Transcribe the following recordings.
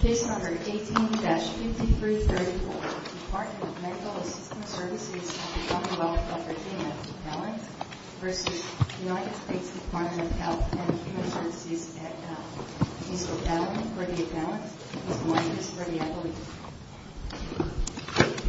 Case No. 18-5334, Department of Medical Assistance Services of the Commonwealth of Virginia, Appellant v. United States Department of Health and Human Services, at Mount. Mr. Appellant, or the Appellant, is going as for the Appellant. Thank you. Thank you.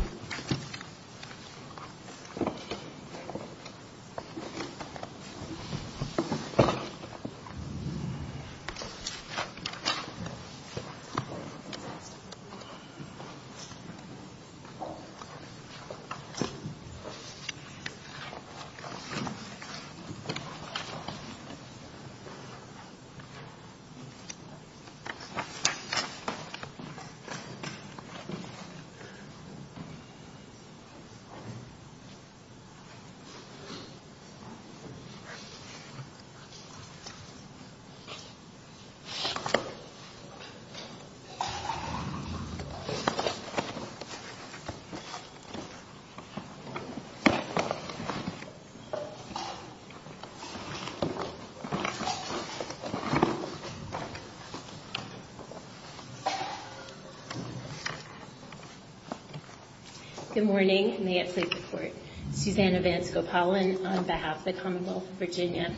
Good morning. May it please the Court. Susanna Vance-Gopalan on behalf of the Commonwealth of Virginia.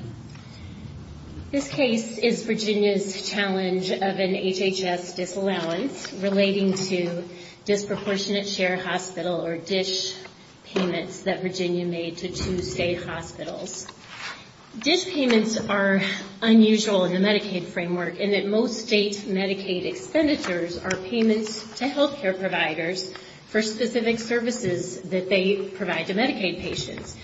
This case is Virginia's challenge of an HHS disallowance relating to disproportionate share hospital or DISH payments that Virginia made to two state hospitals. DISH payments are unusual in the Medicaid framework in that most state Medicaid expenditures are payments to healthcare providers for specific services that they provide to Medicaid patients.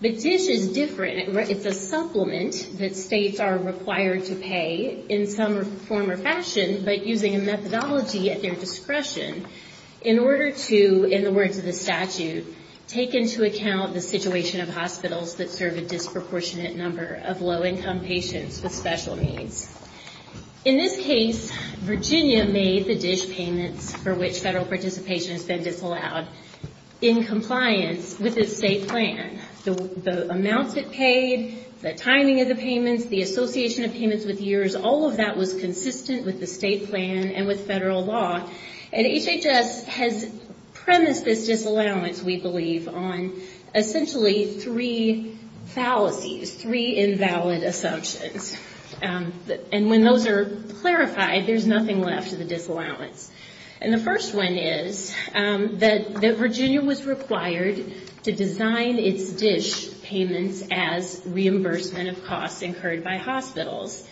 But DISH is different. It's a supplement that states are required to pay in some form or fashion, but using a methodology at their discretion in order to, in the words of the statute, take into account the situation of hospitals that serve a disproportionate number of low-income patients with special needs. In this case, Virginia made the DISH payments, for which federal participation has been disallowed, in compliance with its state plan. The amounts it paid, the timing of the payments, the association of payments with years, all of that was consistent with the state plan and with federal law. And HHS has premised this disallowance, we believe, on essentially three fallacies, three invalid assumptions. And when those are clarified, there's nothing left of the disallowance. And the first one is that Virginia was required to design its DISH payments as reimbursement of costs incurred by hospitals.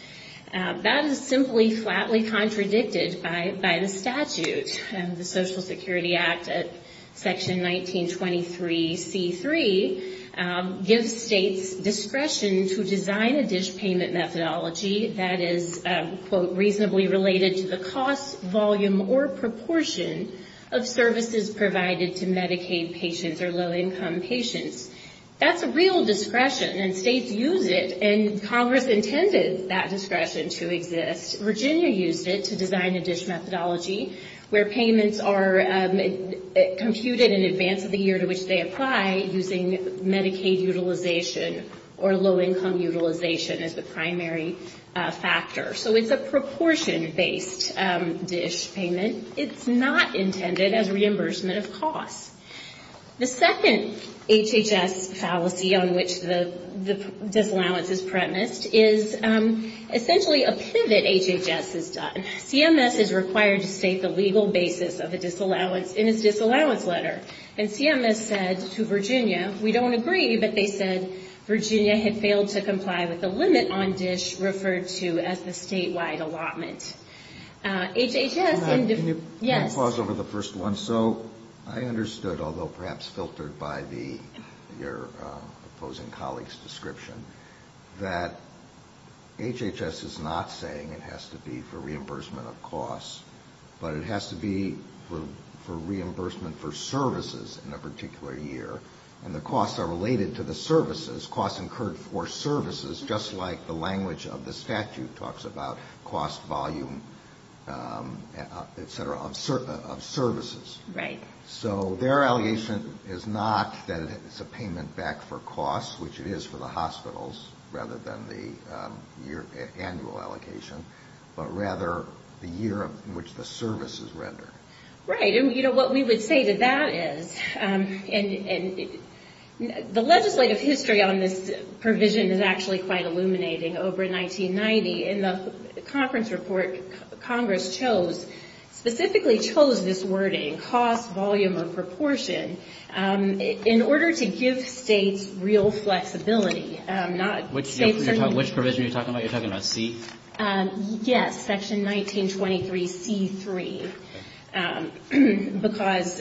That is simply, flatly contradicted by the statute. The Social Security Act, Section 1923C3, gives states discretion to design a DISH payment methodology that is, quote, reasonably related to the cost, volume, or proportion of services provided to Medicaid patients or low-income patients. That's a real discretion, and states use it. And Congress intended that discretion to exist. Virginia used it to design a DISH methodology where payments are computed in advance of the year to which they apply, using Medicaid utilization or low-income utilization as the primary factor. So it's a proportion-based DISH payment. It's not intended as reimbursement of costs. The second HHS fallacy on which the disallowance is premised is essentially a pivot HHS has done. CMS is required to state the legal basis of a disallowance in its disallowance letter. And CMS said to Virginia, we don't agree, but they said Virginia had failed to comply with the limit on DISH referred to as the statewide allotment. HHS... Can you pause over the first one? So I understood, although perhaps filtered by your opposing colleague's description, that HHS is not saying it has to be for reimbursement of costs, but it has to be for reimbursement for services in a particular year. And the costs are related to the services, costs incurred for services, just like the language of the statute talks about cost, volume, et cetera, and so forth. And I'm wondering if that's true. So their allegation is not that it's a payment back for costs, which it is for the hospitals, rather than the annual allocation, but rather the year in which the services render. Right. And you know, what we would say to that is, and the legislative history on this provision is actually quite illuminating. Over in 1990, in the conference report, Congress chose specifically, chose this wording, cost, volume, or proportion, in order to give states real flexibility. Which provision are you talking about? You're talking about C? Yes, Section 1923C3. Because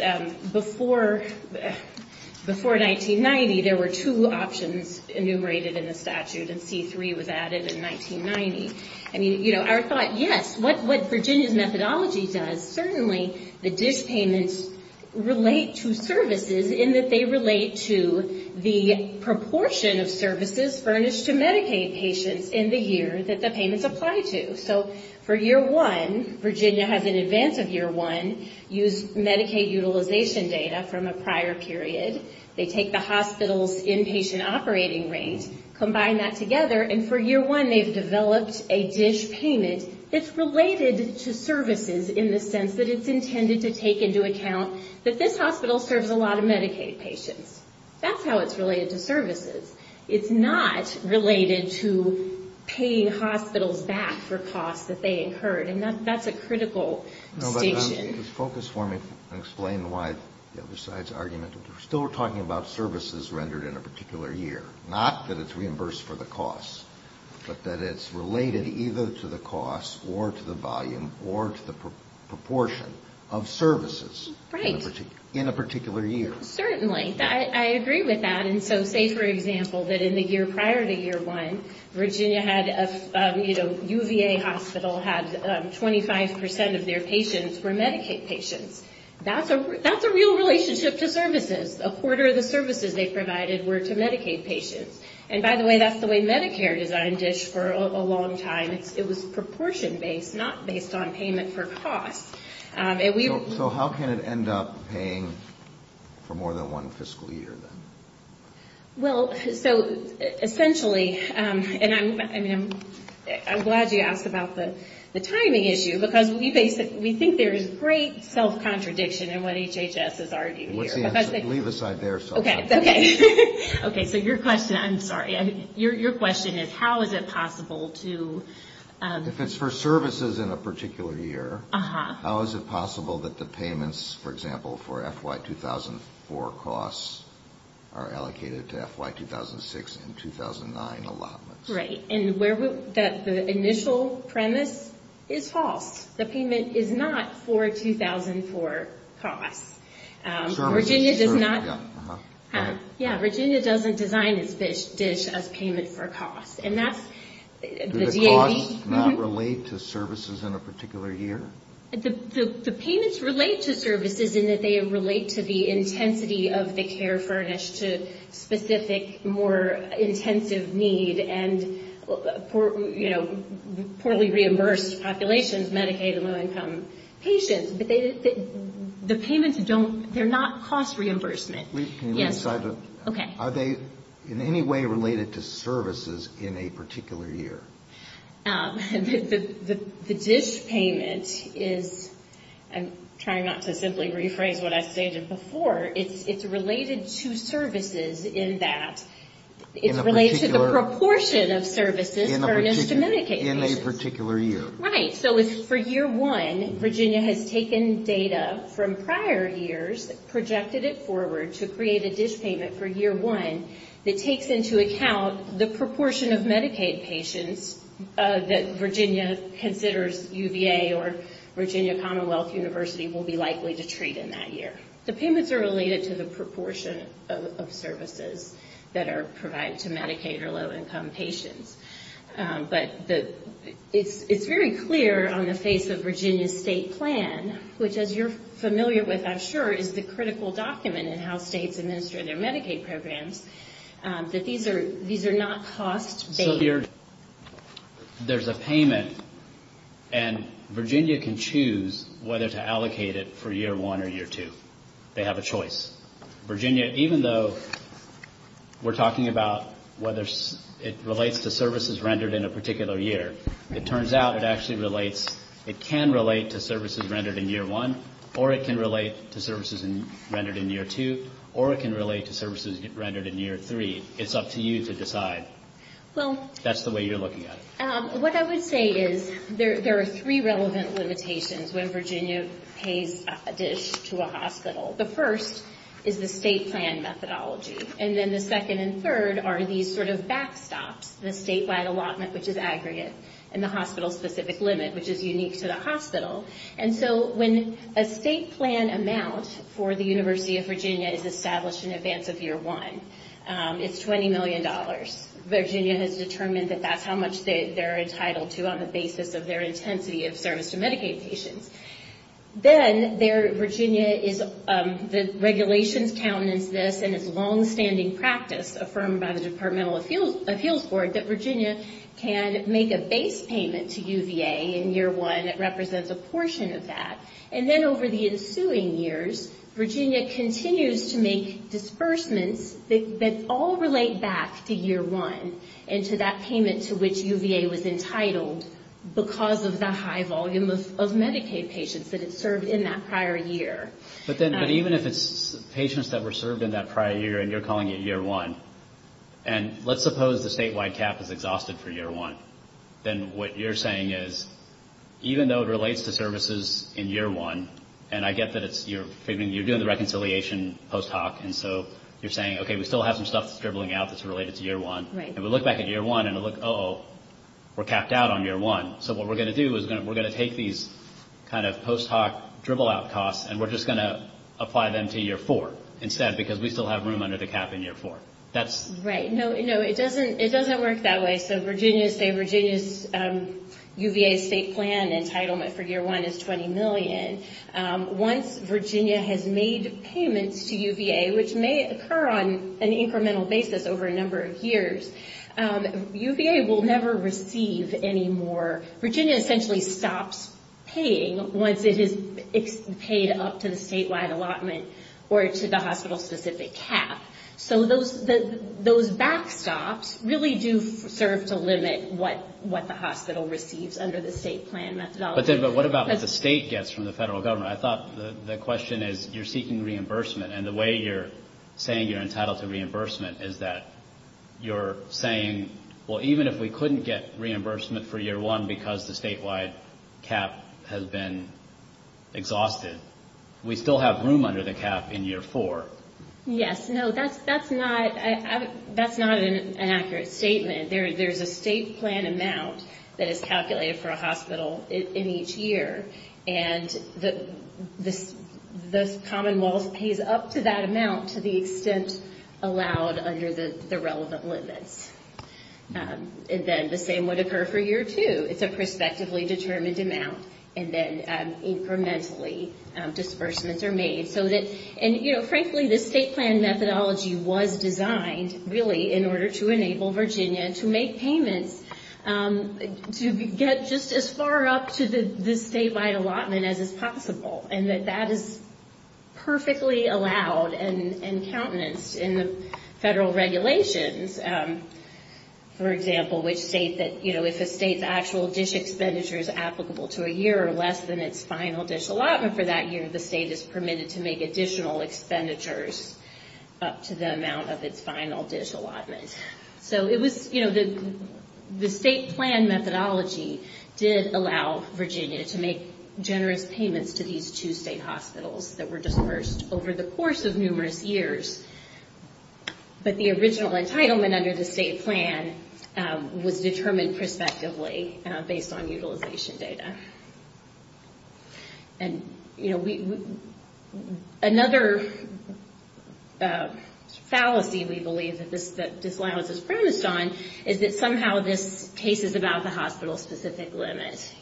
before 1990, there were two options enumerated in the statute, and C3 was added in 1990. I mean, you know, our thought, yes, what Virginia's methodology does, certainly, is that dish payments relate to services in that they relate to the proportion of services furnished to Medicaid patients in the year that the payments apply to. So for year one, Virginia has, in advance of year one, used Medicaid utilization data from a prior period. They take the hospital's inpatient operating rate, combine that together, and for year one, they've developed a dish payment that's related to services in the sense that they're related to Medicaid patients. But it's intended to take into account that this hospital serves a lot of Medicaid patients. That's how it's related to services. It's not related to paying hospitals back for costs that they incurred, and that's a critical distinction. No, but I want you to focus for me and explain why the other side's argument. We're still talking about services rendered in a particular year. Not that it's reimbursed for the costs, but that it's related either to the costs or to the volume or to the proportion of services rendered in a particular year. Right. Certainly. I agree with that. And so say, for example, that in the year prior to year one, Virginia had a, you know, UVA hospital had 25 percent of their patients were Medicaid patients. That's a real relationship to services. A quarter of the services they provided were to Medicaid patients. And by the way, that's the way Medicare designed dish for a long time. It was proportion based, not based on payment for costs. So how can it end up paying for more than one fiscal year then? Well, so essentially, and I'm glad you asked about the timing issue, because we think there is great self-contradiction in what HHS is arguing here. What's the answer? Leave aside their self-contradiction. Okay. So your question, I'm sorry, your question is how is it possible to... If it's for services in a particular year, how is it possible that the payments, for example, for FY2004 costs are allocated to FY2006 and 2009 allotments? Right. And the initial premise is false. The payment is not for 2004 costs. Virginia doesn't design its dish as payment for costs. Do the payments relate to services in a particular year? The payments relate to services in that they relate to the intensity of the care furnished to specific, more intensive need and, you know, poorly reimbursed populations, Medicaid and low income patients. But the payments don't, they're not cost reimbursement. Can you leave aside the... Are they in any way related to services in a particular year? The dish payment is, I'm trying not to simply rephrase what I stated before, it's related to services in that it relates to the proportion of services furnished to Medicaid patients. In a particular year. Right. So for year one, Virginia has taken data from prior years, projected it forward to create a dish payment for year one that takes into account the proportion of Medicaid patients that Virginia considers UVA or Virginia Commonwealth University will be likely to treat in that year. The payments are related to the proportion of services that are provided to Medicaid or low income patients. But it's very clear on the face of Virginia's state plan, which as you're familiar with, I'm sure, is the critical document in how states administer their Medicaid programs, that these are not cost based. There's a payment and Virginia can choose whether to allocate it for year one or year two. They have a choice. Virginia, even though we're talking about whether it relates to services rendered in a particular year, it turns out it actually relates, it can relate to services rendered in year one, or it can relate to services rendered in year two, or it can relate to services rendered in year three. It's up to you to decide. That's the way you're looking at it. What I would say is there are three relevant limitations when Virginia pays a dish to a hospital. The first is the state plan methodology, and then the second and third are these sort of backstops, the statewide allotment, which is aggregate, and the hospital specific limit, which is unique to the hospital. And so when a state plan amount for the University of Virginia is established in advance of year one, it's $20 million. Virginia has determined that that's how much they're entitled to on the basis of their intensity of service to Medicaid patients. Then, the regulations count as this, and it's a longstanding practice affirmed by the Department of Appeals Board that Virginia can make a base payment to UVA in year one that represents a portion of that. And then over the ensuing years, Virginia continues to make disbursements that all relate back to year one and to that payment to which UVA was entitled because of the high volume of Medicaid payments. And so, again, it's not just Medicaid patients, but it's served in that prior year. But even if it's patients that were served in that prior year, and you're calling it year one, and let's suppose the statewide cap is exhausted for year one, then what you're saying is, even though it relates to services in year one, and I get that you're doing the reconciliation post hoc, and so you're saying, okay, we still have some stuff that's dribbling out that's related to year one, and we look back at year one and look, uh-oh, we're capped out on year one. So what we're going to do is we're going to take these kind of post hoc dribble out costs, and we're just going to apply them to year four instead, because we still have room under the cap in year four. That's... Right. No, it doesn't work that way. So Virginia's, say, UVA's state plan entitlement for year one is $20 million. Once Virginia has made payments to UVA, which may occur on an incremental basis over a number of years, UVA will never receive any more UVA payments. Virginia essentially stops paying once it has paid up to the statewide allotment or to the hospital-specific cap. So those backstops really do serve to limit what the hospital receives under the state plan methodology. But then what about what the state gets from the federal government? I thought the question is, you're seeking reimbursement, and the way you're saying you're entitled to reimbursement is that you're saying, well, even if we couldn't get reimbursement for year one because we're not going to get it for year two. Because the statewide cap has been exhausted, we still have room under the cap in year four. Yes. No, that's not an accurate statement. There's a state plan amount that is calculated for a hospital in each year, and the Commonwealth pays up to that amount to the extent allowed under the relevant limits. And then the same would occur for year two. It's a prospectively determined amount, and then incrementally, disbursements are made. And frankly, the state plan methodology was designed, really, in order to enable Virginia to make payments to get just as far up to the statewide allotment as is possible, and that is perfectly allowed and countenanced in the federal regulations. For example, which state that, you know, if a state's actual dish expenditure is applicable to a year or less than its final dish allotment for that year, the state is permitted to make additional expenditures up to the amount of its final dish allotment. So it was, you know, the state plan methodology did allow Virginia to make generous payments to these two state hospitals that were disbursed over the course of numerous years. But the original entitlement under the state plan was determined prospectively based on utilization data. And, you know, another fallacy we believe that this, that disallowance is premised on is that somehow this case is about the hospital-specific limit.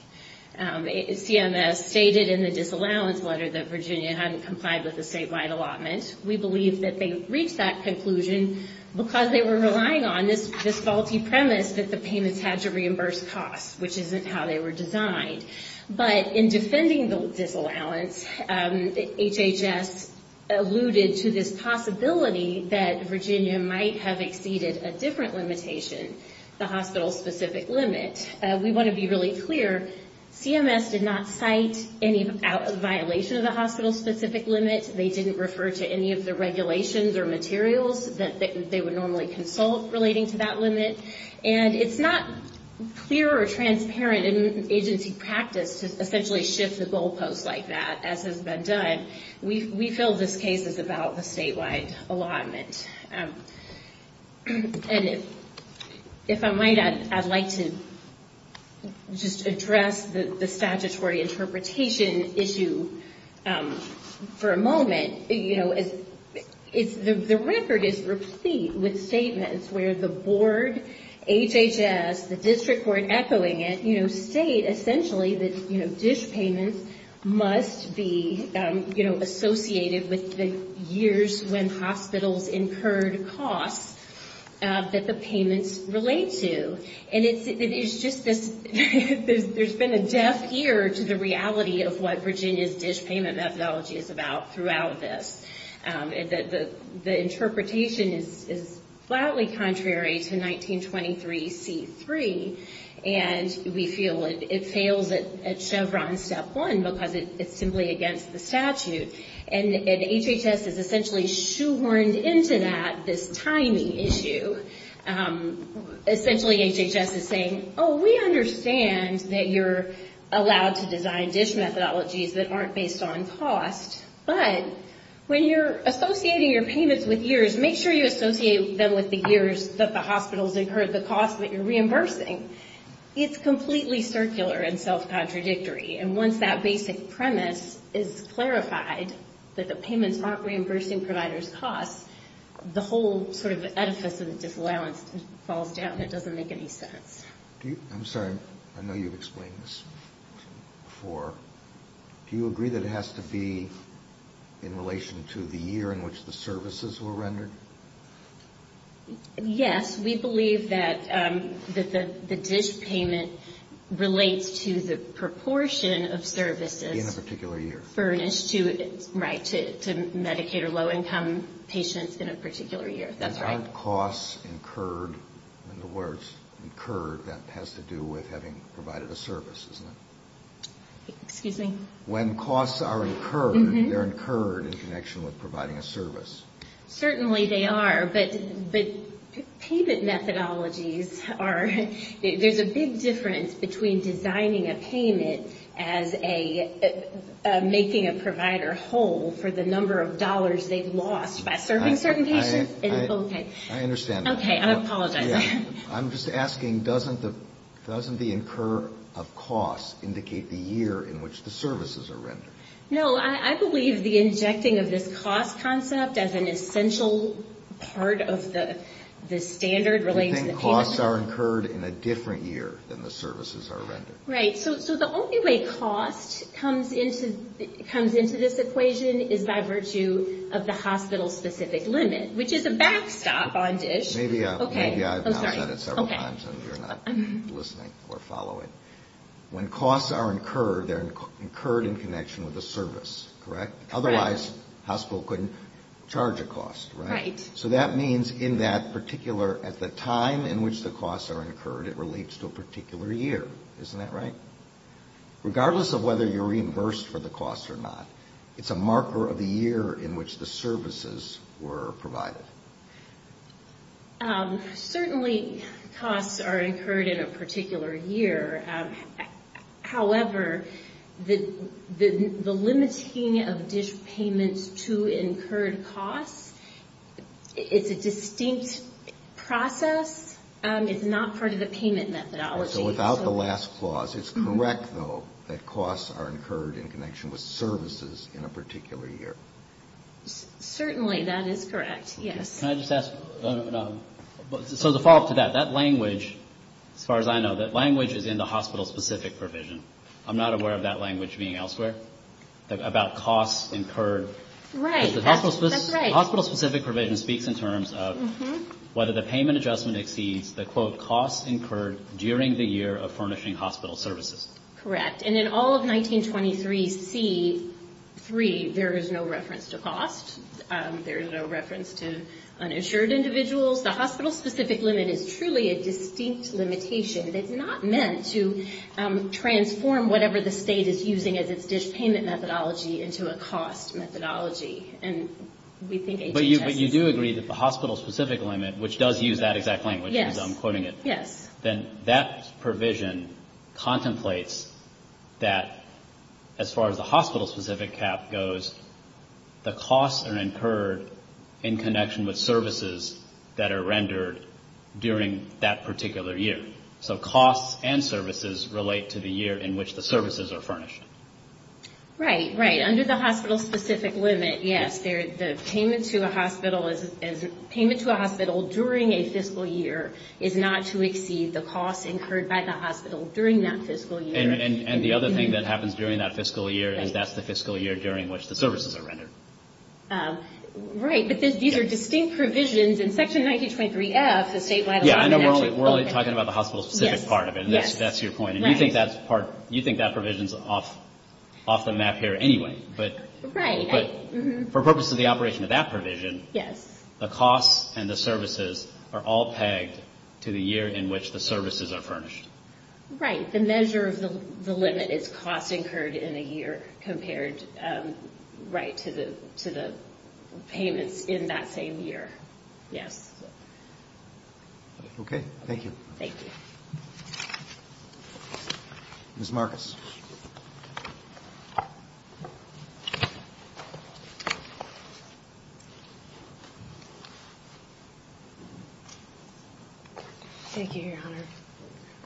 CMS stated in the disallowance letter that Virginia hadn't complied with the statewide allotment. We believe that they reached that conclusion because they were relying on this faulty premise that the payments had to reimburse costs, which isn't how they were designed. But in defending the disallowance, HHS alluded to this possibility that Virginia might have exceeded a different limitation, the hospital-specific limit. We want to be really clear, CMS did not cite any violation of the hospital-specific limit. They didn't refer to any of the regulations or materials that they would normally consult relating to that limit. And it's not clear or transparent in agency practice to essentially shift the goalpost like that, as has been done. We feel this case is about the statewide allotment. And if I might, I'd like to just address the statutory interpretation issue for a moment. The record is replete with statements where the board, HHS, the district court echoing it, state essentially that dish payments must be associated with the years when hospitals incurred costs that the payments relate to. And it's just this, there's been a deaf ear to the reality of what Virginia's dish payment methodology is about throughout the years. And we feel it fails at Chevron step one, because it's simply against the statute. And HHS is essentially shoehorned into that, this tiny issue. Essentially HHS is saying, oh, we understand that you're allowed to design dish methodologies that aren't based on cost, but when you're associating your payments with years, make sure you associate them with the years that the hospitals incurred the cost that you're reimbursing. It's completely circular and self-contradictory. And once that basic premise is clarified, that the payments aren't reimbursing providers' costs, the whole sort of edifice of the disallowance falls down. It doesn't make any sense. Do you, I'm sorry, I know you've explained this to me before. Do you agree that it has to be in relation to the year in which the services were rendered? Yes, we believe that the dish payment relates to the proportion of services furnished to, right, to Medicaid or low income patients in a particular year. Aren't costs incurred, in other words, incurred that has to do with having provided a service, isn't it? When costs are incurred, they're incurred in connection with providing a service. Certainly they are, but payment methodologies are, there's a big difference between designing a payment as a, making a provider whole for the number of dollars they've lost by serving certain patients. I understand that. Okay, I apologize. I'm just asking, doesn't the incur of costs indicate the year in which the services are rendered? No, I believe the injecting of this cost concept as an essential part of the standard relating to the payment. You think costs are incurred in a different year than the services are rendered? I'm going to have to stop on dish. Maybe I've now said it several times and you're not listening or following. When costs are incurred, they're incurred in connection with a service, correct? Otherwise, the hospital couldn't charge a cost, right? Right. So that means in that particular, at the time in which the costs are incurred, it relates to a particular year. Isn't that right? Regardless of whether you're reimbursed for the costs or not, it's a marker of the year in which the services were provided. Certainly costs are incurred in a particular year. However, the limiting of dish payments to incurred costs is not something that I would recommend. It's a distinct process. It's not part of the payment methodology. So without the last clause, it's correct, though, that costs are incurred in connection with services in a particular year? Certainly that is correct, yes. So to follow up to that, that language, as far as I know, that language is in the hospital-specific provision. I'm not aware of that language being elsewhere, about costs incurred. Right. That's right. Because the hospital-specific provision speaks in terms of whether the payment adjustment exceeds the, quote, costs incurred during the year of furnishing hospital services. Correct. And in all of 1923C3, there is no reference to cost. There is no reference to uninsured individuals. The hospital-specific limit is truly a distinct limitation. It's not meant to transform whatever the state is using as its dish payment methodology into a cost methodology. And we think HHS is... But you do agree that the hospital-specific limit, which does use that exact language, as I'm quoting it... Yes. ...then that provision contemplates that, as far as the hospital-specific cap goes, the costs are incurred in connection with services that are rendered during that particular year. So costs and services relate to the year in which the services are furnished. Right, right. Under the hospital-specific limit, yes. The payment to a hospital during a fiscal year is not to exceed the costs incurred by the hospital during that fiscal year. And the other thing that happens during that fiscal year is that's the fiscal year during which the services are rendered. Right. But these are distinct provisions. In Section 1923F, the statewide... Yeah, I know we're only talking about the hospital-specific part of it. That's your point. And you think that provision's off the map here anyway. Right. But for purposes of the operation of that provision, the costs and the services are all pegged to the year in which the services are furnished. Right. The measure of the limit is costs incurred in a year compared to the payments in that same year. Yes. Ms. Marcus. Thank you, Your Honor.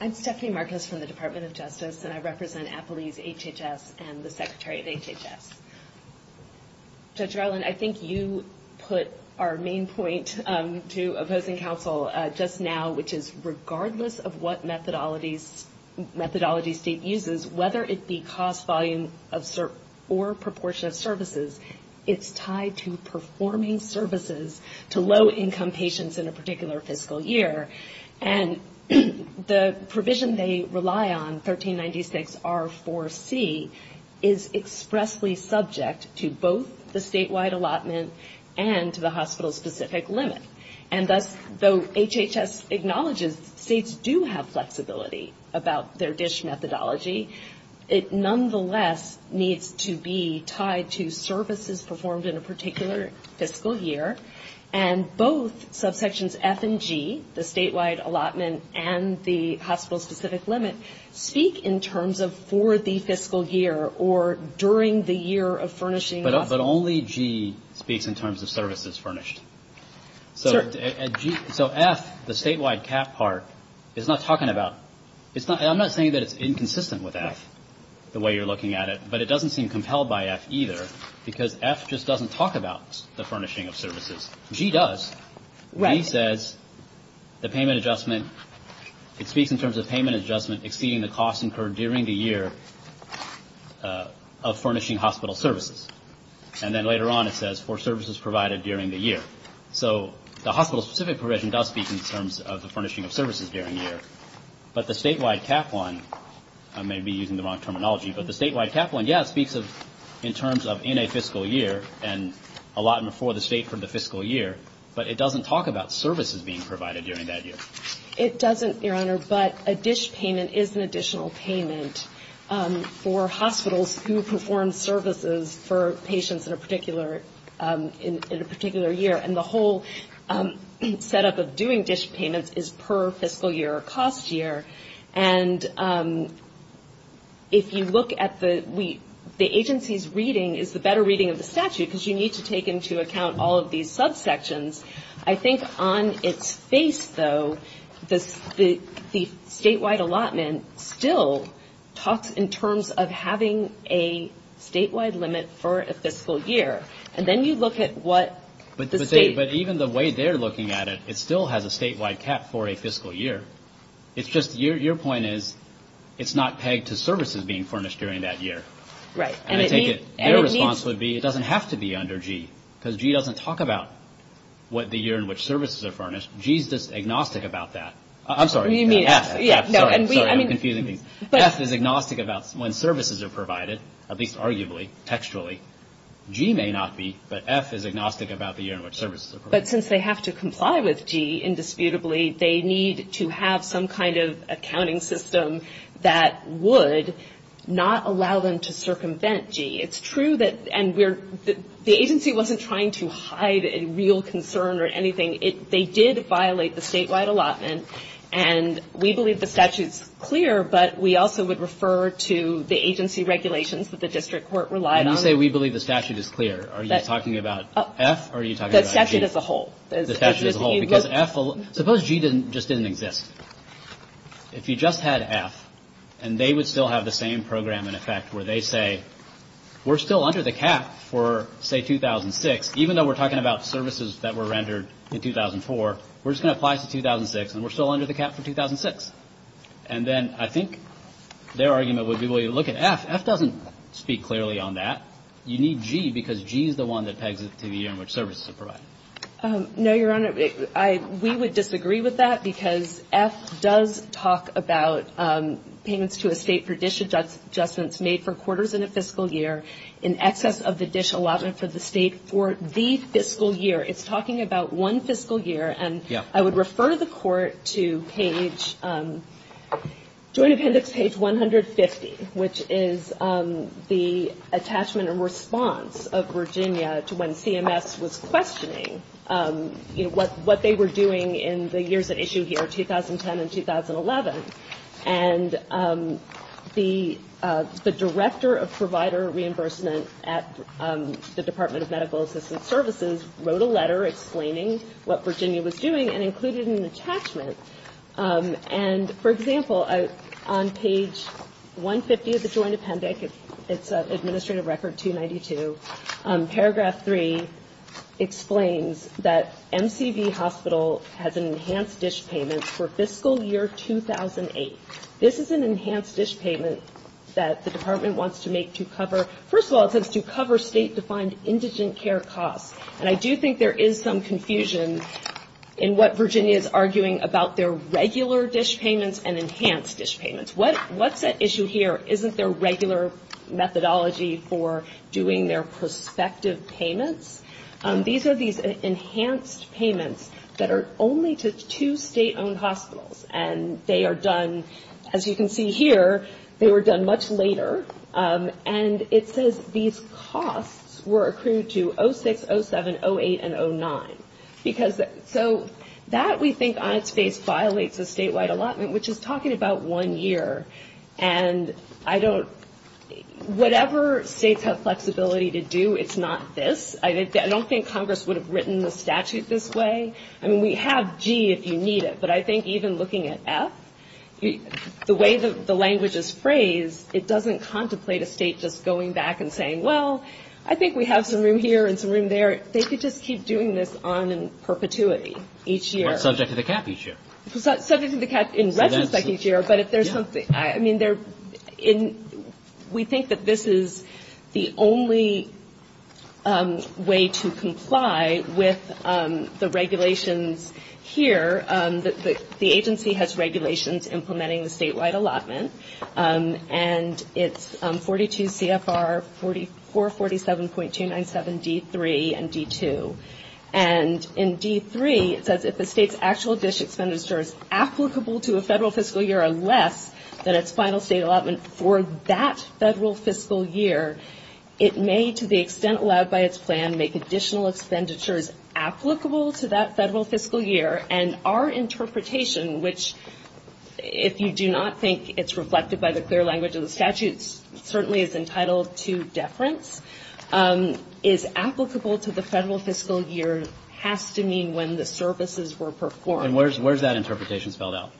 I'm Stephanie Marcus from the Department of Justice, and I represent Applebee's HHS and the Secretary of HHS. Judge Rowland, I think you put our main point to opposing counsel just now, which is regardless of what methodologies... state uses, whether it be cost volume or proportion of services, it's tied to performing services to low-income patients in a particular fiscal year. And the provision they rely on, 1396R4C, is expressly subject to both the statewide allotment and to the hospital-specific limit. And thus, though HHS acknowledges states do have flexibility about their DISH methodology, it nonetheless needs to be tied to services performed in a particular fiscal year. And both subsections F and G, the statewide allotment and the hospital-specific limit, speak in terms of for the fiscal year or during the year of furnishing... So F, the statewide cap part, is not talking about... I'm not saying that it's inconsistent with F, the way you're looking at it, but it doesn't seem compelled by F either, because F just doesn't talk about the furnishing of services. G does. G says the payment adjustment, it speaks in terms of payment adjustment exceeding the cost incurred during the year of furnishing hospital services. And then later on it says, for services provided during the year. So the hospital-specific provision does speak in terms of the furnishing of services during the year. But the statewide cap one, I may be using the wrong terminology, but the statewide cap one, yes, speaks in terms of in a fiscal year and allotment for the state for the fiscal year, but it doesn't talk about services being provided during that year. It doesn't, Your Honor, but a DISH payment is an additional payment for hospitals who perform services for a particular fiscal year. For patients in a particular year. And the whole setup of doing DISH payments is per fiscal year or cost year. And if you look at the... The agency's reading is the better reading of the statute, because you need to take into account all of these subsections. I think on its face, though, the statewide allotment still talks in terms of having a statewide limit for an additional payment. For a fiscal year, and then you look at what the state... But even the way they're looking at it, it still has a statewide cap for a fiscal year. It's just, your point is, it's not pegged to services being furnished during that year. Their response would be, it doesn't have to be under G, because G doesn't talk about the year in which services are furnished. G's just agnostic about that. I'm sorry, F. F is agnostic about when services are provided, at least arguably, textually. G may not be, but F is agnostic about the year in which services are provided. But since they have to comply with G, indisputably, they need to have some kind of accounting system that would not allow them to circumvent G. It's true that, and we're, the agency wasn't trying to hide a real concern or anything. They did violate the statewide allotment, and we believe the statute's clear, but we also would refer to the agency regulations that the district court relied on. When you say we believe the statute is clear, are you talking about F, or are you talking about G? The statute as a whole. The statute as a whole, because F, suppose G just didn't exist. If you just had F, and they would still have the same program in effect where they say, we're still under the cap for, say, 2006, even though we're talking about services that were rendered in 2004, we're just going to apply to 2006, and we're still under the cap for 2006. And then I think their argument would be, well, you look at F. F doesn't speak clearly on that. You need G, because G is the one that pegs to the year in which services are provided. No, Your Honor. We would disagree with that, because F does talk about payments to a State for dish adjustments made for quarters in a fiscal year in excess of the dish allotment for the State for the fiscal year. It's talking about one fiscal year. And I would refer the Court to page, Joint Appendix page 150, which is the attachment and response of Virginia to when CMS was questioning, you know, what they were doing in the years at issue here, 2010 and 2011. And the Director of Provider Reimbursement at the Department of Medical Assistance Services wrote a letter explaining what Virginia was doing and included an attachment. And, for example, on page 150 of the Joint Appendix, it's Administrative Record 292, paragraph 3 explains that MCV Hospital has an enhanced dish payment for fiscal year 2008. This is an enhanced dish payment that the Department wants to make to cover, first of all, it says to cover State-defined indigent care costs. And I do think there is some confusion in what Virginia is arguing about their regular dish payments and enhanced dish payments. What's at issue here isn't their regular methodology for doing their prospective payments. These are these enhanced payments that are only to two State-owned hospitals. And they are done, as you can see here, they were done much later. And it says these costs were accrued to 06, 07, 08 and 09. So that we think on its face violates a statewide allotment, which is talking about one year. And I don't, whatever States have flexibility to do, it's not this. I don't think Congress would have written the statute this way. I mean, we have G if you need it, but I think even looking at F, the way the language is phrased, it doesn't contemplate a State just going back and saying, well, I think we have some room here and some room there. They could just keep doing this on in perpetuity each year. Subject to the cap each year. Subject to the cap in retrospect each year, but if there's something, I mean, we think that this is the only way to comply with the regulations here. The agency has regulations implementing the statewide allotment. And it's 42 CFR 4447.297 D3 and D2. And in D3 it says if the State's actual DISH expenditures applicable to a federal fiscal year or less than its final State allotment for that federal fiscal year, it may to the extent allowed by its plan make additional expenditures applicable to that federal fiscal year and our interpretation, which if you do not think it's reflected by the clear language of the statutes, certainly is entitled to deference, is applicable to the federal fiscal year has to mean when the services were performed. And where's that interpretation spelled out?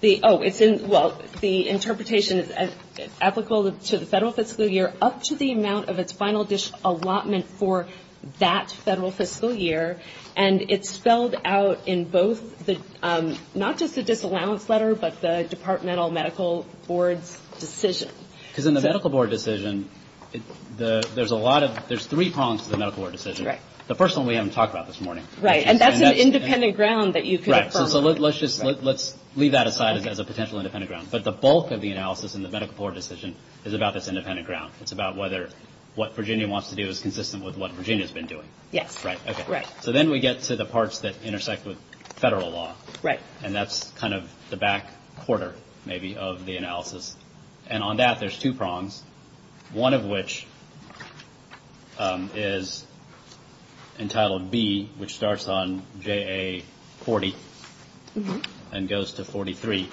The interpretation is applicable to the federal fiscal year up to the amount of its final DISH allotment for that federal fiscal year. And it's spelled out in both the, not just the disallowance letter, but the departmental medical board's decision. Because in the medical board decision, there's a lot of, there's three prongs to the medical board decision. The first one we haven't talked about this morning. Right. And that's an independent ground that you could affirm. Right. So let's just, let's leave that aside as a potential independent ground. But the bulk of the analysis in the medical board decision is about this independent ground. It's about whether what Virginia wants to do is consistent with what Virginia's been doing. Yes. Right. Right. So then we get to the parts that intersect with federal law. Right. And that's kind of the back quarter, maybe, of the analysis. And on that, there's two prongs, one of which is entitled B, which starts on JA 40 and goes to 43.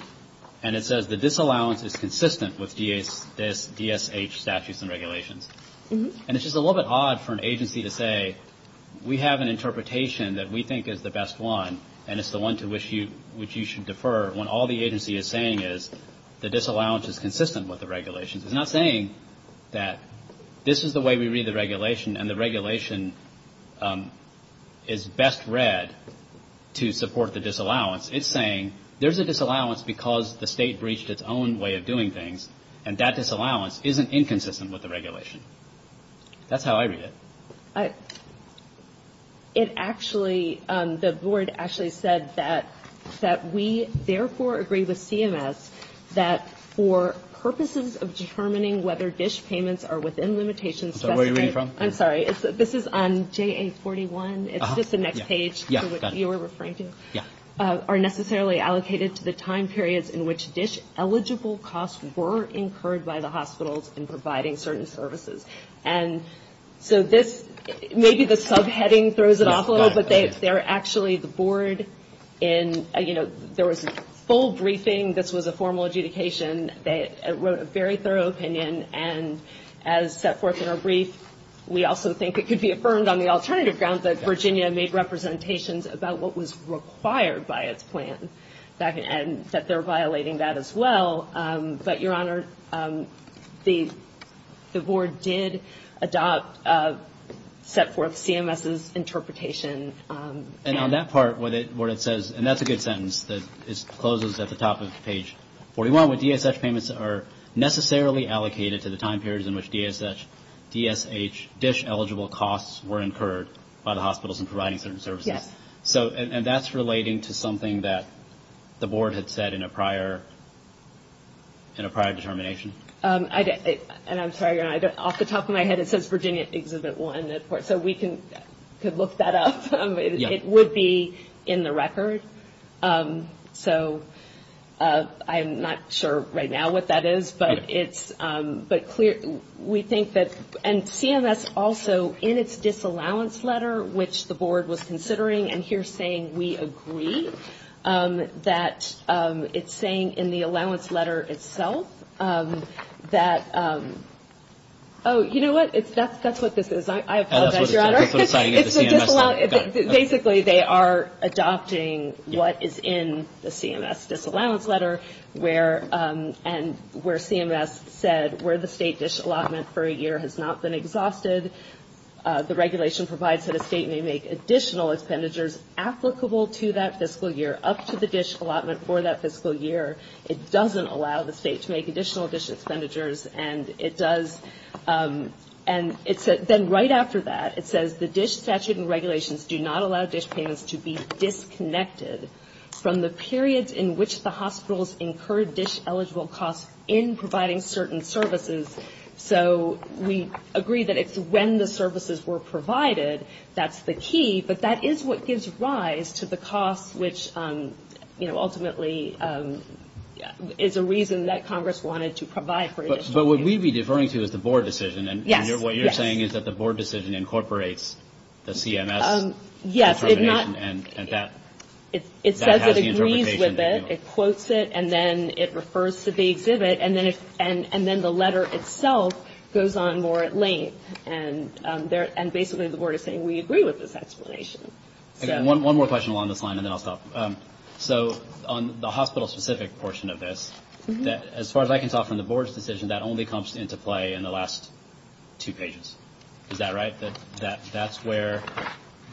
And it says the disallowance is consistent with DSH statutes and regulations. And it's just a little bit odd for an agency to say we have an interpretation that we think is the best one, and it's the one to which you should defer when all the agency is saying is the disallowance is consistent with the regulations. It's not saying that this is the way we read the regulation and the regulation is best read to support the disallowance. It's saying there's a disallowance because the state breached its own way of doing things, and that disallowance isn't inconsistent with the regulation. That's how I read it. It actually the board actually said that that we therefore agree with CMS that for purposes of determining whether DSH payments are within limitations. I'm sorry. This is on JA 41. It's just the next page. Yeah. Are necessarily allocated to the time periods in which DSH eligible costs were incurred by the hospitals in providing certain services. And so this maybe the subheading throws it off a little bit. They're actually the board in, you know, there was a full briefing. This was a formal adjudication that wrote a very thorough opinion. And as set forth in our brief, we also think it could be affirmed on the alternative ground that Virginia made representations about what was required by its plan, and that they're violating that as well. But, Your Honor, the board did adopt, set forth CMS's interpretation. And on that part where it says, and that's a good sentence that closes at the top of page 41, what's wrong with DSH payments are necessarily allocated to the time periods in which DSH eligible costs were incurred by the hospitals in providing certain services. And that's relating to something that the board had said in a prior determination. And I'm sorry, Your Honor, off the top of my head it says Virginia exhibit one. So we could look that up. It would be in the record. So I'm not sure right now what that is. But we think that, and CMS also in its disallowance letter, which the board was considering, and here saying we agree, that it's saying in the allowance letter itself that, oh, you know what? That's what this is. I apologize, Your Honor. Basically they are adopting what is in the CMS disallowance letter, and where CMS said where the state DSH allotment for a year has not been exhausted. The regulation provides that a state may make additional expenditures applicable to that fiscal year up to the DSH allotment for that fiscal year. It doesn't allow the state to make additional DSH expenditures. And it does. And then right after that it says the DSH statute and regulations do not allow DSH payments to be disconnected from the periods in which the hospitals incurred DSH eligible costs in providing certain services. So we agree that it's when the services were provided that's the key, but that is what gives rise to the costs, which, you know, ultimately is a reason that Congress wanted to provide for DSH. But what we'd be deferring to is the board decision, and what you're saying is that the board decision incorporates the CMS interpretation, and that has the interpretation. It says it agrees with it, it quotes it, and then it refers to the exhibit, and then the letter itself goes on more at length. And basically the board is saying we agree with this explanation. One more question along this line, and then I'll stop. So on the hospital-specific portion of this, as far as I can tell from the board's decision, that only comes into play in the last two pages. Is that right? That's where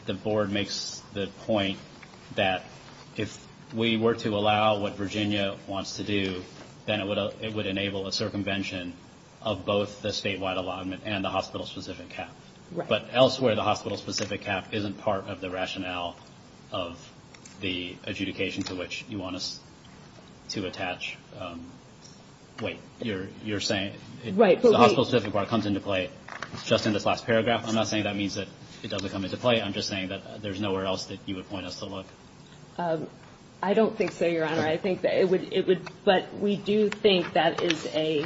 the board makes the point that if we were to allow what Virginia wants to do, then it would enable a circumvention of both the statewide allotment and the hospital-specific cap. But elsewhere, the hospital-specific cap isn't part of the rationale of the adjudication to which you want us to attach. Wait, you're saying the hospital-specific part comes into play just in this last paragraph? I'm not saying that means that it doesn't come into play. I'm just saying that there's nowhere else that you would point us to look. I don't think so, Your Honor. I think that it would, but we do think that is a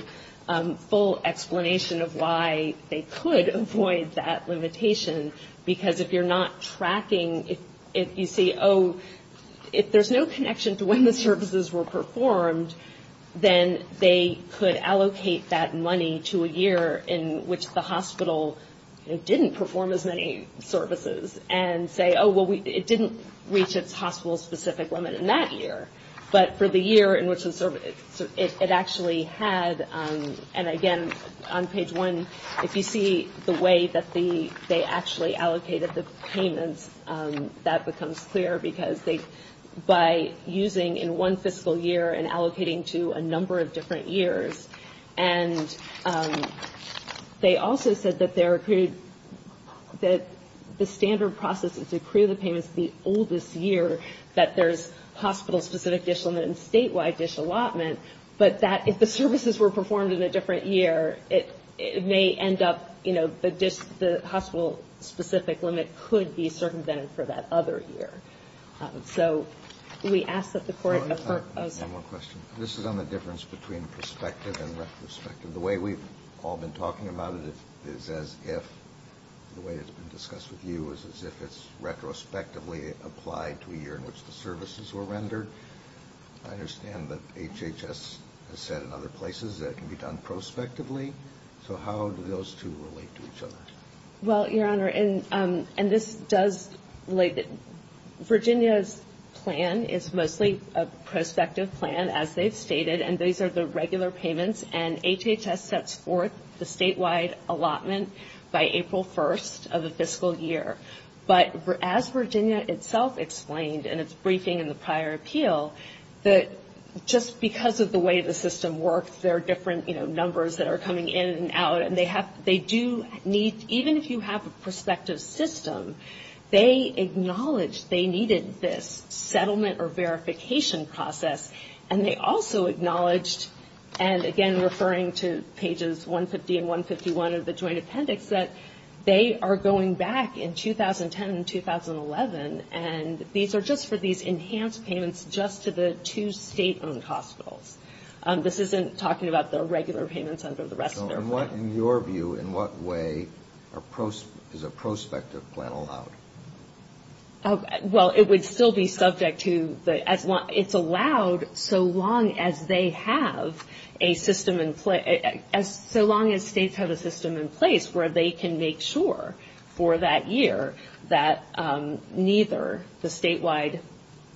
full explanation of why they could avoid that limitation. Because if you're not tracking, if you see, oh, if there's no connection to when the services were performed, then they could allocate that money to a year in which the hospital didn't perform as many services, and say, oh, well, it didn't reach its hospital-specific limit in that year. But for the year in which it actually had, and again, on page one, if you see the way that they actually allocated the payments, that becomes clear, because by using in one fiscal year and allocating to a number of different years, and they also said that the standard process is to accrue the payments the oldest year that there's hospital-specific dish limit and statewide dish allotment, but that if the services were performed in a different year, it may end up, you know, the dish, the hospital-specific limit could be circumvented for that other year. So we ask that the Court approve. The way we've all been talking about it is as if, the way it's been discussed with you, is as if it's retrospectively applied to a year in which the services were rendered. I understand that HHS has said in other places that it can be done prospectively. So how do those two relate to each other? Well, Your Honor, and this does relate, Virginia's plan is mostly a prospective plan, as they've stated, and these are the regular payments, and HHS sets forth the statewide allotment by April 1st of the fiscal year. But as Virginia itself explained in its briefing in the prior appeal, that just because of the way the system works, there are different, you know, numbers that are coming in and out, and they do need, even if you have a prospective system, they acknowledge they needed this settlement or verification process, and they also acknowledged, and again referring to pages 150 and 151 of the joint appendix, that they are going back in 2010 and 2011, and these are just for these enhanced payments just to the two state-owned hospitals. This isn't talking about the regular payments under the rest of their plan. So in your view, in what way is a prospective plan allowed? Well, it would still be subject to the, it's allowed so long as they have a system in place, so long as states have a system in place where they can make sure for that year that neither the statewide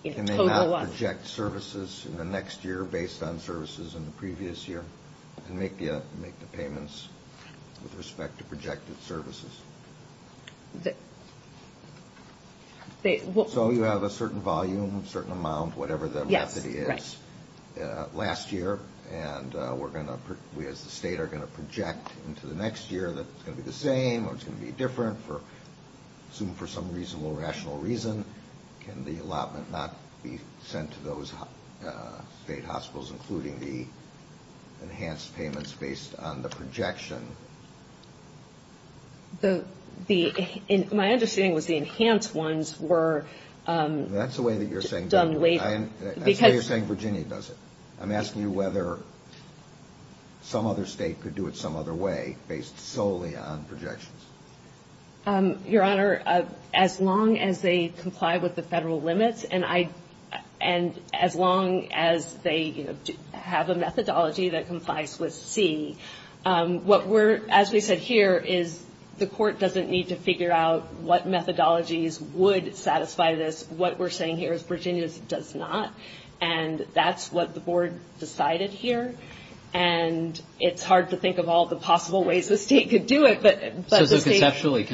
total... Can they not project services in the next year based on services in the previous year, and make the payments with respect to projected services? So you have a certain volume, a certain amount, whatever the method is, last year, and we as the state are going to project into the next year that it's going to be the same or it's going to be different, assumed for some reasonable, rational reason. Can the allotment not be sent to those state hospitals, including the enhanced payments based on the projection? My understanding was the enhanced ones were done later. That's the way that you're saying Virginia does it. I'm asking you whether some other state could do it some other way based solely on projections. Your Honor, as long as they comply with the federal limits, and as long as they have a methodology that complies with C, as we said here, the court doesn't need to figure out what methodologies would satisfy this. What we're saying here is Virginia does not, and that's what the Board decided here, and it's hard to think of all the possible ways the state could do it. So conceptually,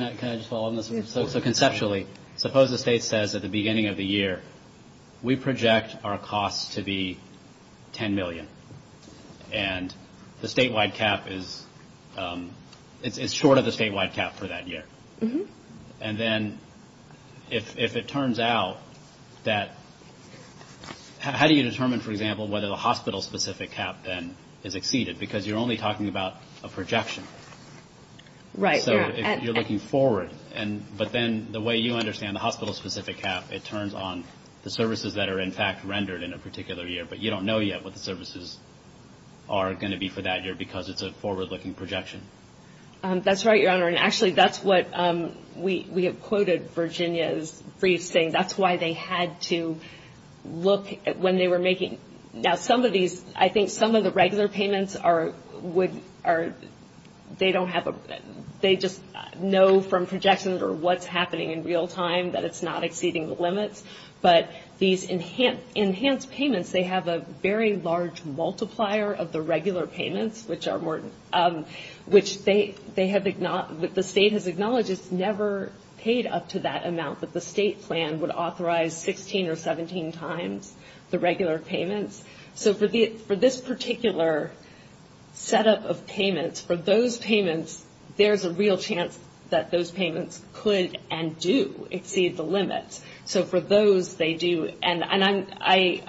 suppose the state says at the beginning of the year, we project our costs to be $10 million, and the statewide cap is short of the statewide cap for that year. And then if it turns out that, how do you determine, for example, whether the hospital-specific cap then is exceeded? So if you're looking forward, but then the way you understand the hospital-specific cap, it turns on the services that are in fact rendered in a particular year, but you don't know yet what the services are going to be for that year because it's a forward-looking projection. That's right, Your Honor, and actually that's what we have quoted Virginia's briefs saying. That's why they had to look when they were making. Now some of these, I think some of the regular payments are, they don't have a, they just know from projections or what's happening in real time that it's not exceeding the limits, but these enhanced payments, they have a very large multiplier of the regular payments, which are more, which they have, the state has acknowledged it's never paid up to that amount, but the state plan would authorize 16 or 17 times the regular payments. So for this particular setup of payments, for those payments, there's a real chance that those payments could and do exceed the limits. So for those they do, and I'm.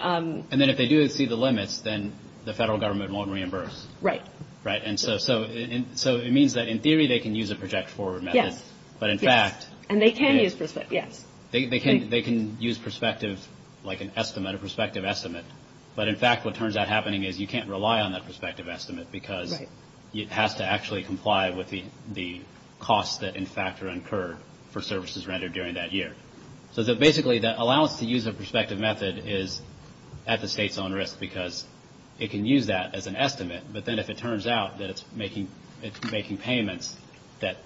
And then if they do exceed the limits, then the federal government won't reimburse. Right, and so it means that in theory they can use a project forward method, but in fact. And they can use perspective, yes. They can use perspective like an estimate, a perspective estimate, but in fact what turns out happening is you can't rely on that perspective estimate because it has to actually comply with the costs that in fact are incurred for services rendered during that year. So basically the allowance to use a perspective method is at the state's own risk because it can use that as an estimate, but then if it turns out that it's making payments that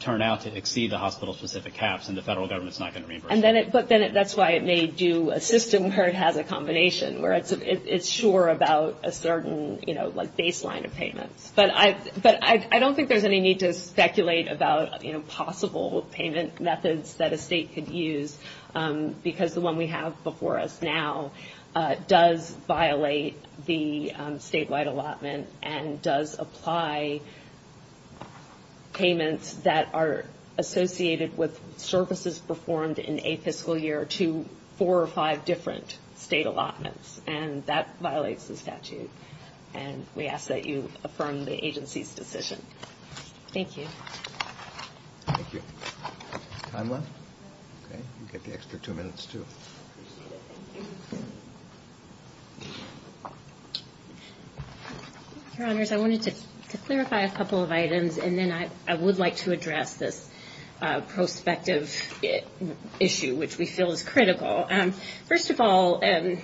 turn out to exceed the hospital specific caps, then the federal government is not going to reimburse. But then that's why it may do a system where it has a combination, where it's sure about a certain, you know, like baseline of payments. But I don't think there's any need to speculate about, you know, possible payment methods that a state could use because the one we have before us now does violate the statewide allotment and does apply payments that are associated with services performed in a fiscal year to four or five different state allotments, and that violates the statute, and we ask that you affirm the agency's decision. Thank you. Your Honors, I wanted to clarify a couple of items, and then I would like to address this prospective issue, which we feel is critical. First of all, the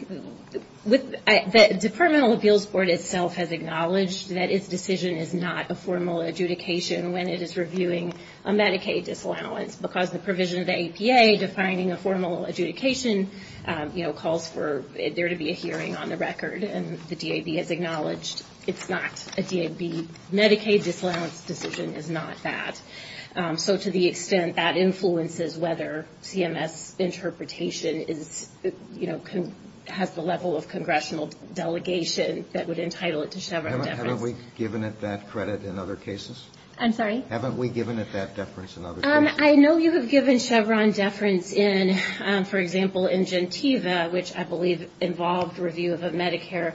Departmental Appeals Board itself has acknowledged that its decision is not a formal adjudication when it is reviewing a Medicaid disallowance because the provision of the APA defining a formal adjudication, you know, calls for there to be a hearing on the record, and the DAB has acknowledged it's not a DAB. Medicaid disallowance decision is not that. So to the extent that influences whether CMS interpretation is, you know, has the level of congressional delegation that would entitle it to Chevron deference. Haven't we given it that credit in other cases? I'm sorry? Haven't we given it that deference in other cases? I know you have given Chevron deference in, for example, in Gentiva, which I believe involved review of a Medicare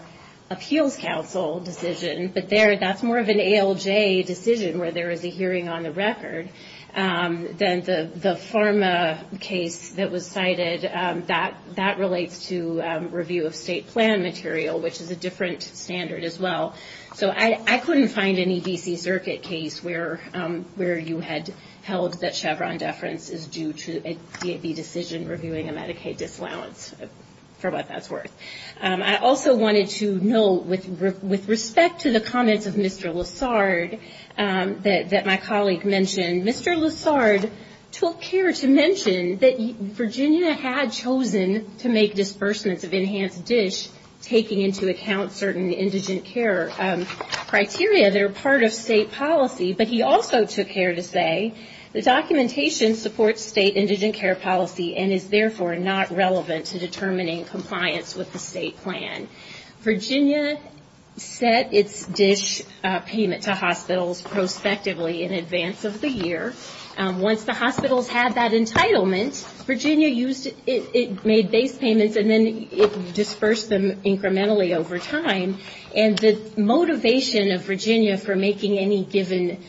Appeals Council decision, but there that's more of an ALJ decision where there is a hearing on the record. Then the pharma case that was cited, that relates to review of state plan material, which is a different standard as well. So I couldn't find any D.C. Circuit case where you had held that Chevron deference is due to a DAB decision reviewing a Medicaid disallowance, for what that's worth. I also wanted to note with respect to the comments of Mr. Lessard that my colleague mentioned, Mr. Lessard took care to mention that Virginia had chosen to make disbursements of enhanced dish taking into account certain indigent care criteria that are part of state policy. But he also took care to say the documentation supports state indigent care policy and is therefore not relevant to determining compliance with the state plan. Virginia set its dish payment to hospitals prospectively in advance of the year. Once the hospitals had that entitlement, Virginia made base payments and then it disbursed them incrementally over time. And the motivation of Virginia for making any given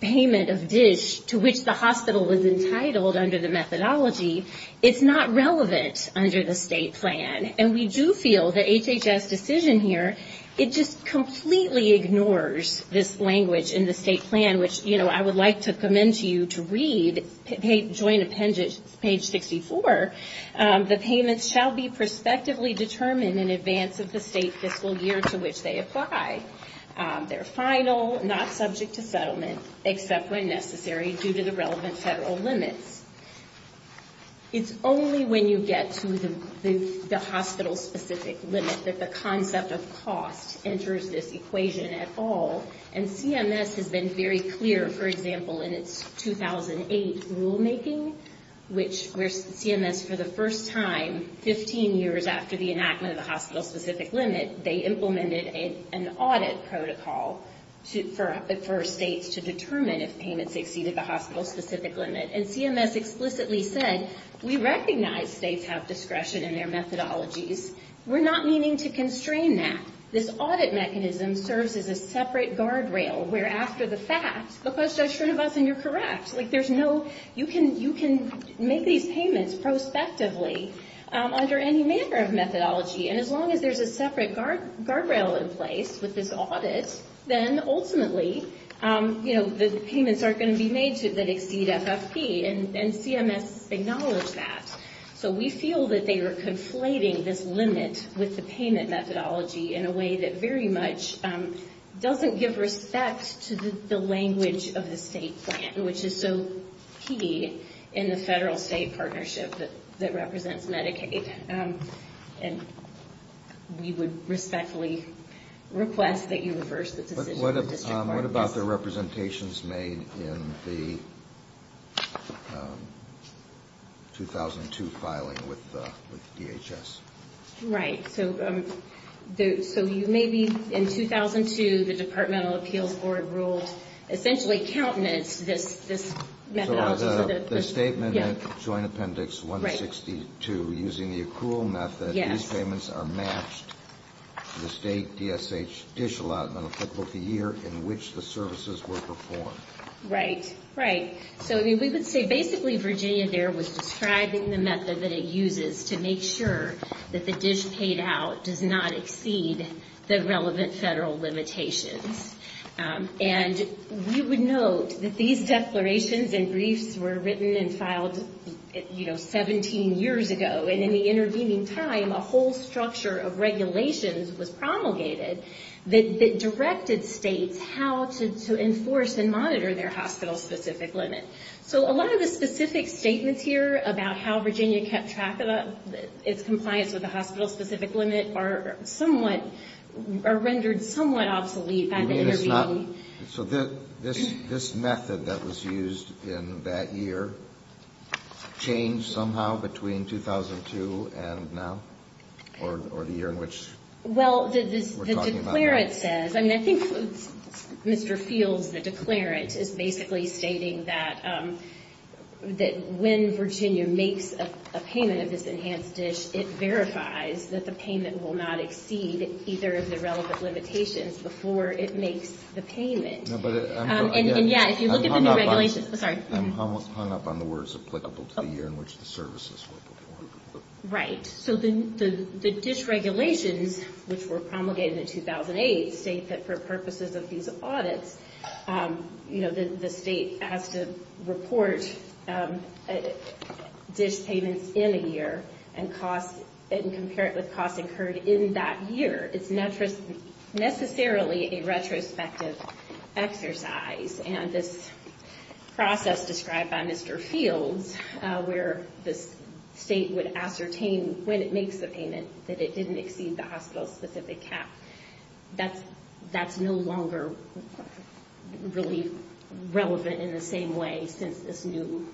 payment of dish to which the hospital is entitled under the methodology, it's not relevant under the state plan. And we do feel the HHS decision here, it just completely ignores this language in the state plan, which I would like to commend you to read. It's joint appendage, page 64. The payments shall be prospectively determined in advance of the state fiscal year to which they apply. They're final, not subject to settlement, except when necessary due to the relevant federal limits. It's only when you get to the hospital specific limit that the concept of cost enters this equation at all. And CMS has been very clear, for example, in its 2008 rulemaking, which CMS for the first time, 15 years after the enactment of the hospital specific limit, they implemented an audit protocol for states to determine if payments exceeded the hospital specific limit. And CMS explicitly said, we recognize states have discretion in their methodologies. We're not meaning to constrain that. This audit mechanism serves as a separate guardrail, where after the fact, look what Judge Srinivasan, you're correct. You can make these payments prospectively under any manner of methodology. And as long as there's a separate guardrail in place with this audit, then ultimately the payments aren't going to be made that exceed FFP. And CMS acknowledged that. So we feel that they are conflating this limit with the payment methodology in a way that very much doesn't give respect to the language of the state plan, which is so key in the federal-state partnership that represents Medicaid. And we would respectfully request that you reverse the decision of the district parties. What about the representations made in the 2002 filing with DHS? Right. So you may be, in 2002, the Department of Appeals Board ruled essentially countenance this methodology. The statement, Joint Appendix 162, using the accrual method, these payments are matched to the state DSH dish allotment applicable to the year in which the services were performed. Right, right. So we would say basically Virginia there was describing the method that it uses to make sure that the dish paid out does not exceed the relevant federal limitations. And we would note that these declarations and briefs were written and filed, you know, 17 years ago. And in the intervening time, a whole structure of regulations was promulgated that directed states how to enforce and monitor their hospital-specific limit. So a lot of the specific statements here about how Virginia kept track of its compliance with the hospital-specific limit are somewhat, are rendered somewhat obsolete by the intervening time. So this method that was used in that year changed somehow between 2002 and now, or the year in which we're talking about now? Well, the declarant says, I mean, I think Mr. Fields, the declarant, is basically stating that when Virginia makes a payment of this enhanced dish, it verifies that the payment will not exceed either of the relevant limitations before it makes the payment. And yet, if you look at the new regulations, I'm sorry. I'm hung up on the words applicable to the year in which the services were performed. Right. So the dish regulations, which were promulgated in 2008, state that for purposes of these audits, you know, the state has to report dish payments in a year and compare it with costs incurred in that year. It's not necessarily a retrospective exercise. And this process described by Mr. Fields, where the state would ascertain when it makes the payment that it didn't exceed the hospital-specific cap, that's no longer really relevant in the same way since this new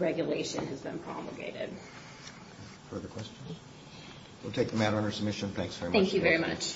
regulation has been promulgated. Further questions? We'll take the matter under submission. Thanks very much. Thank you very much.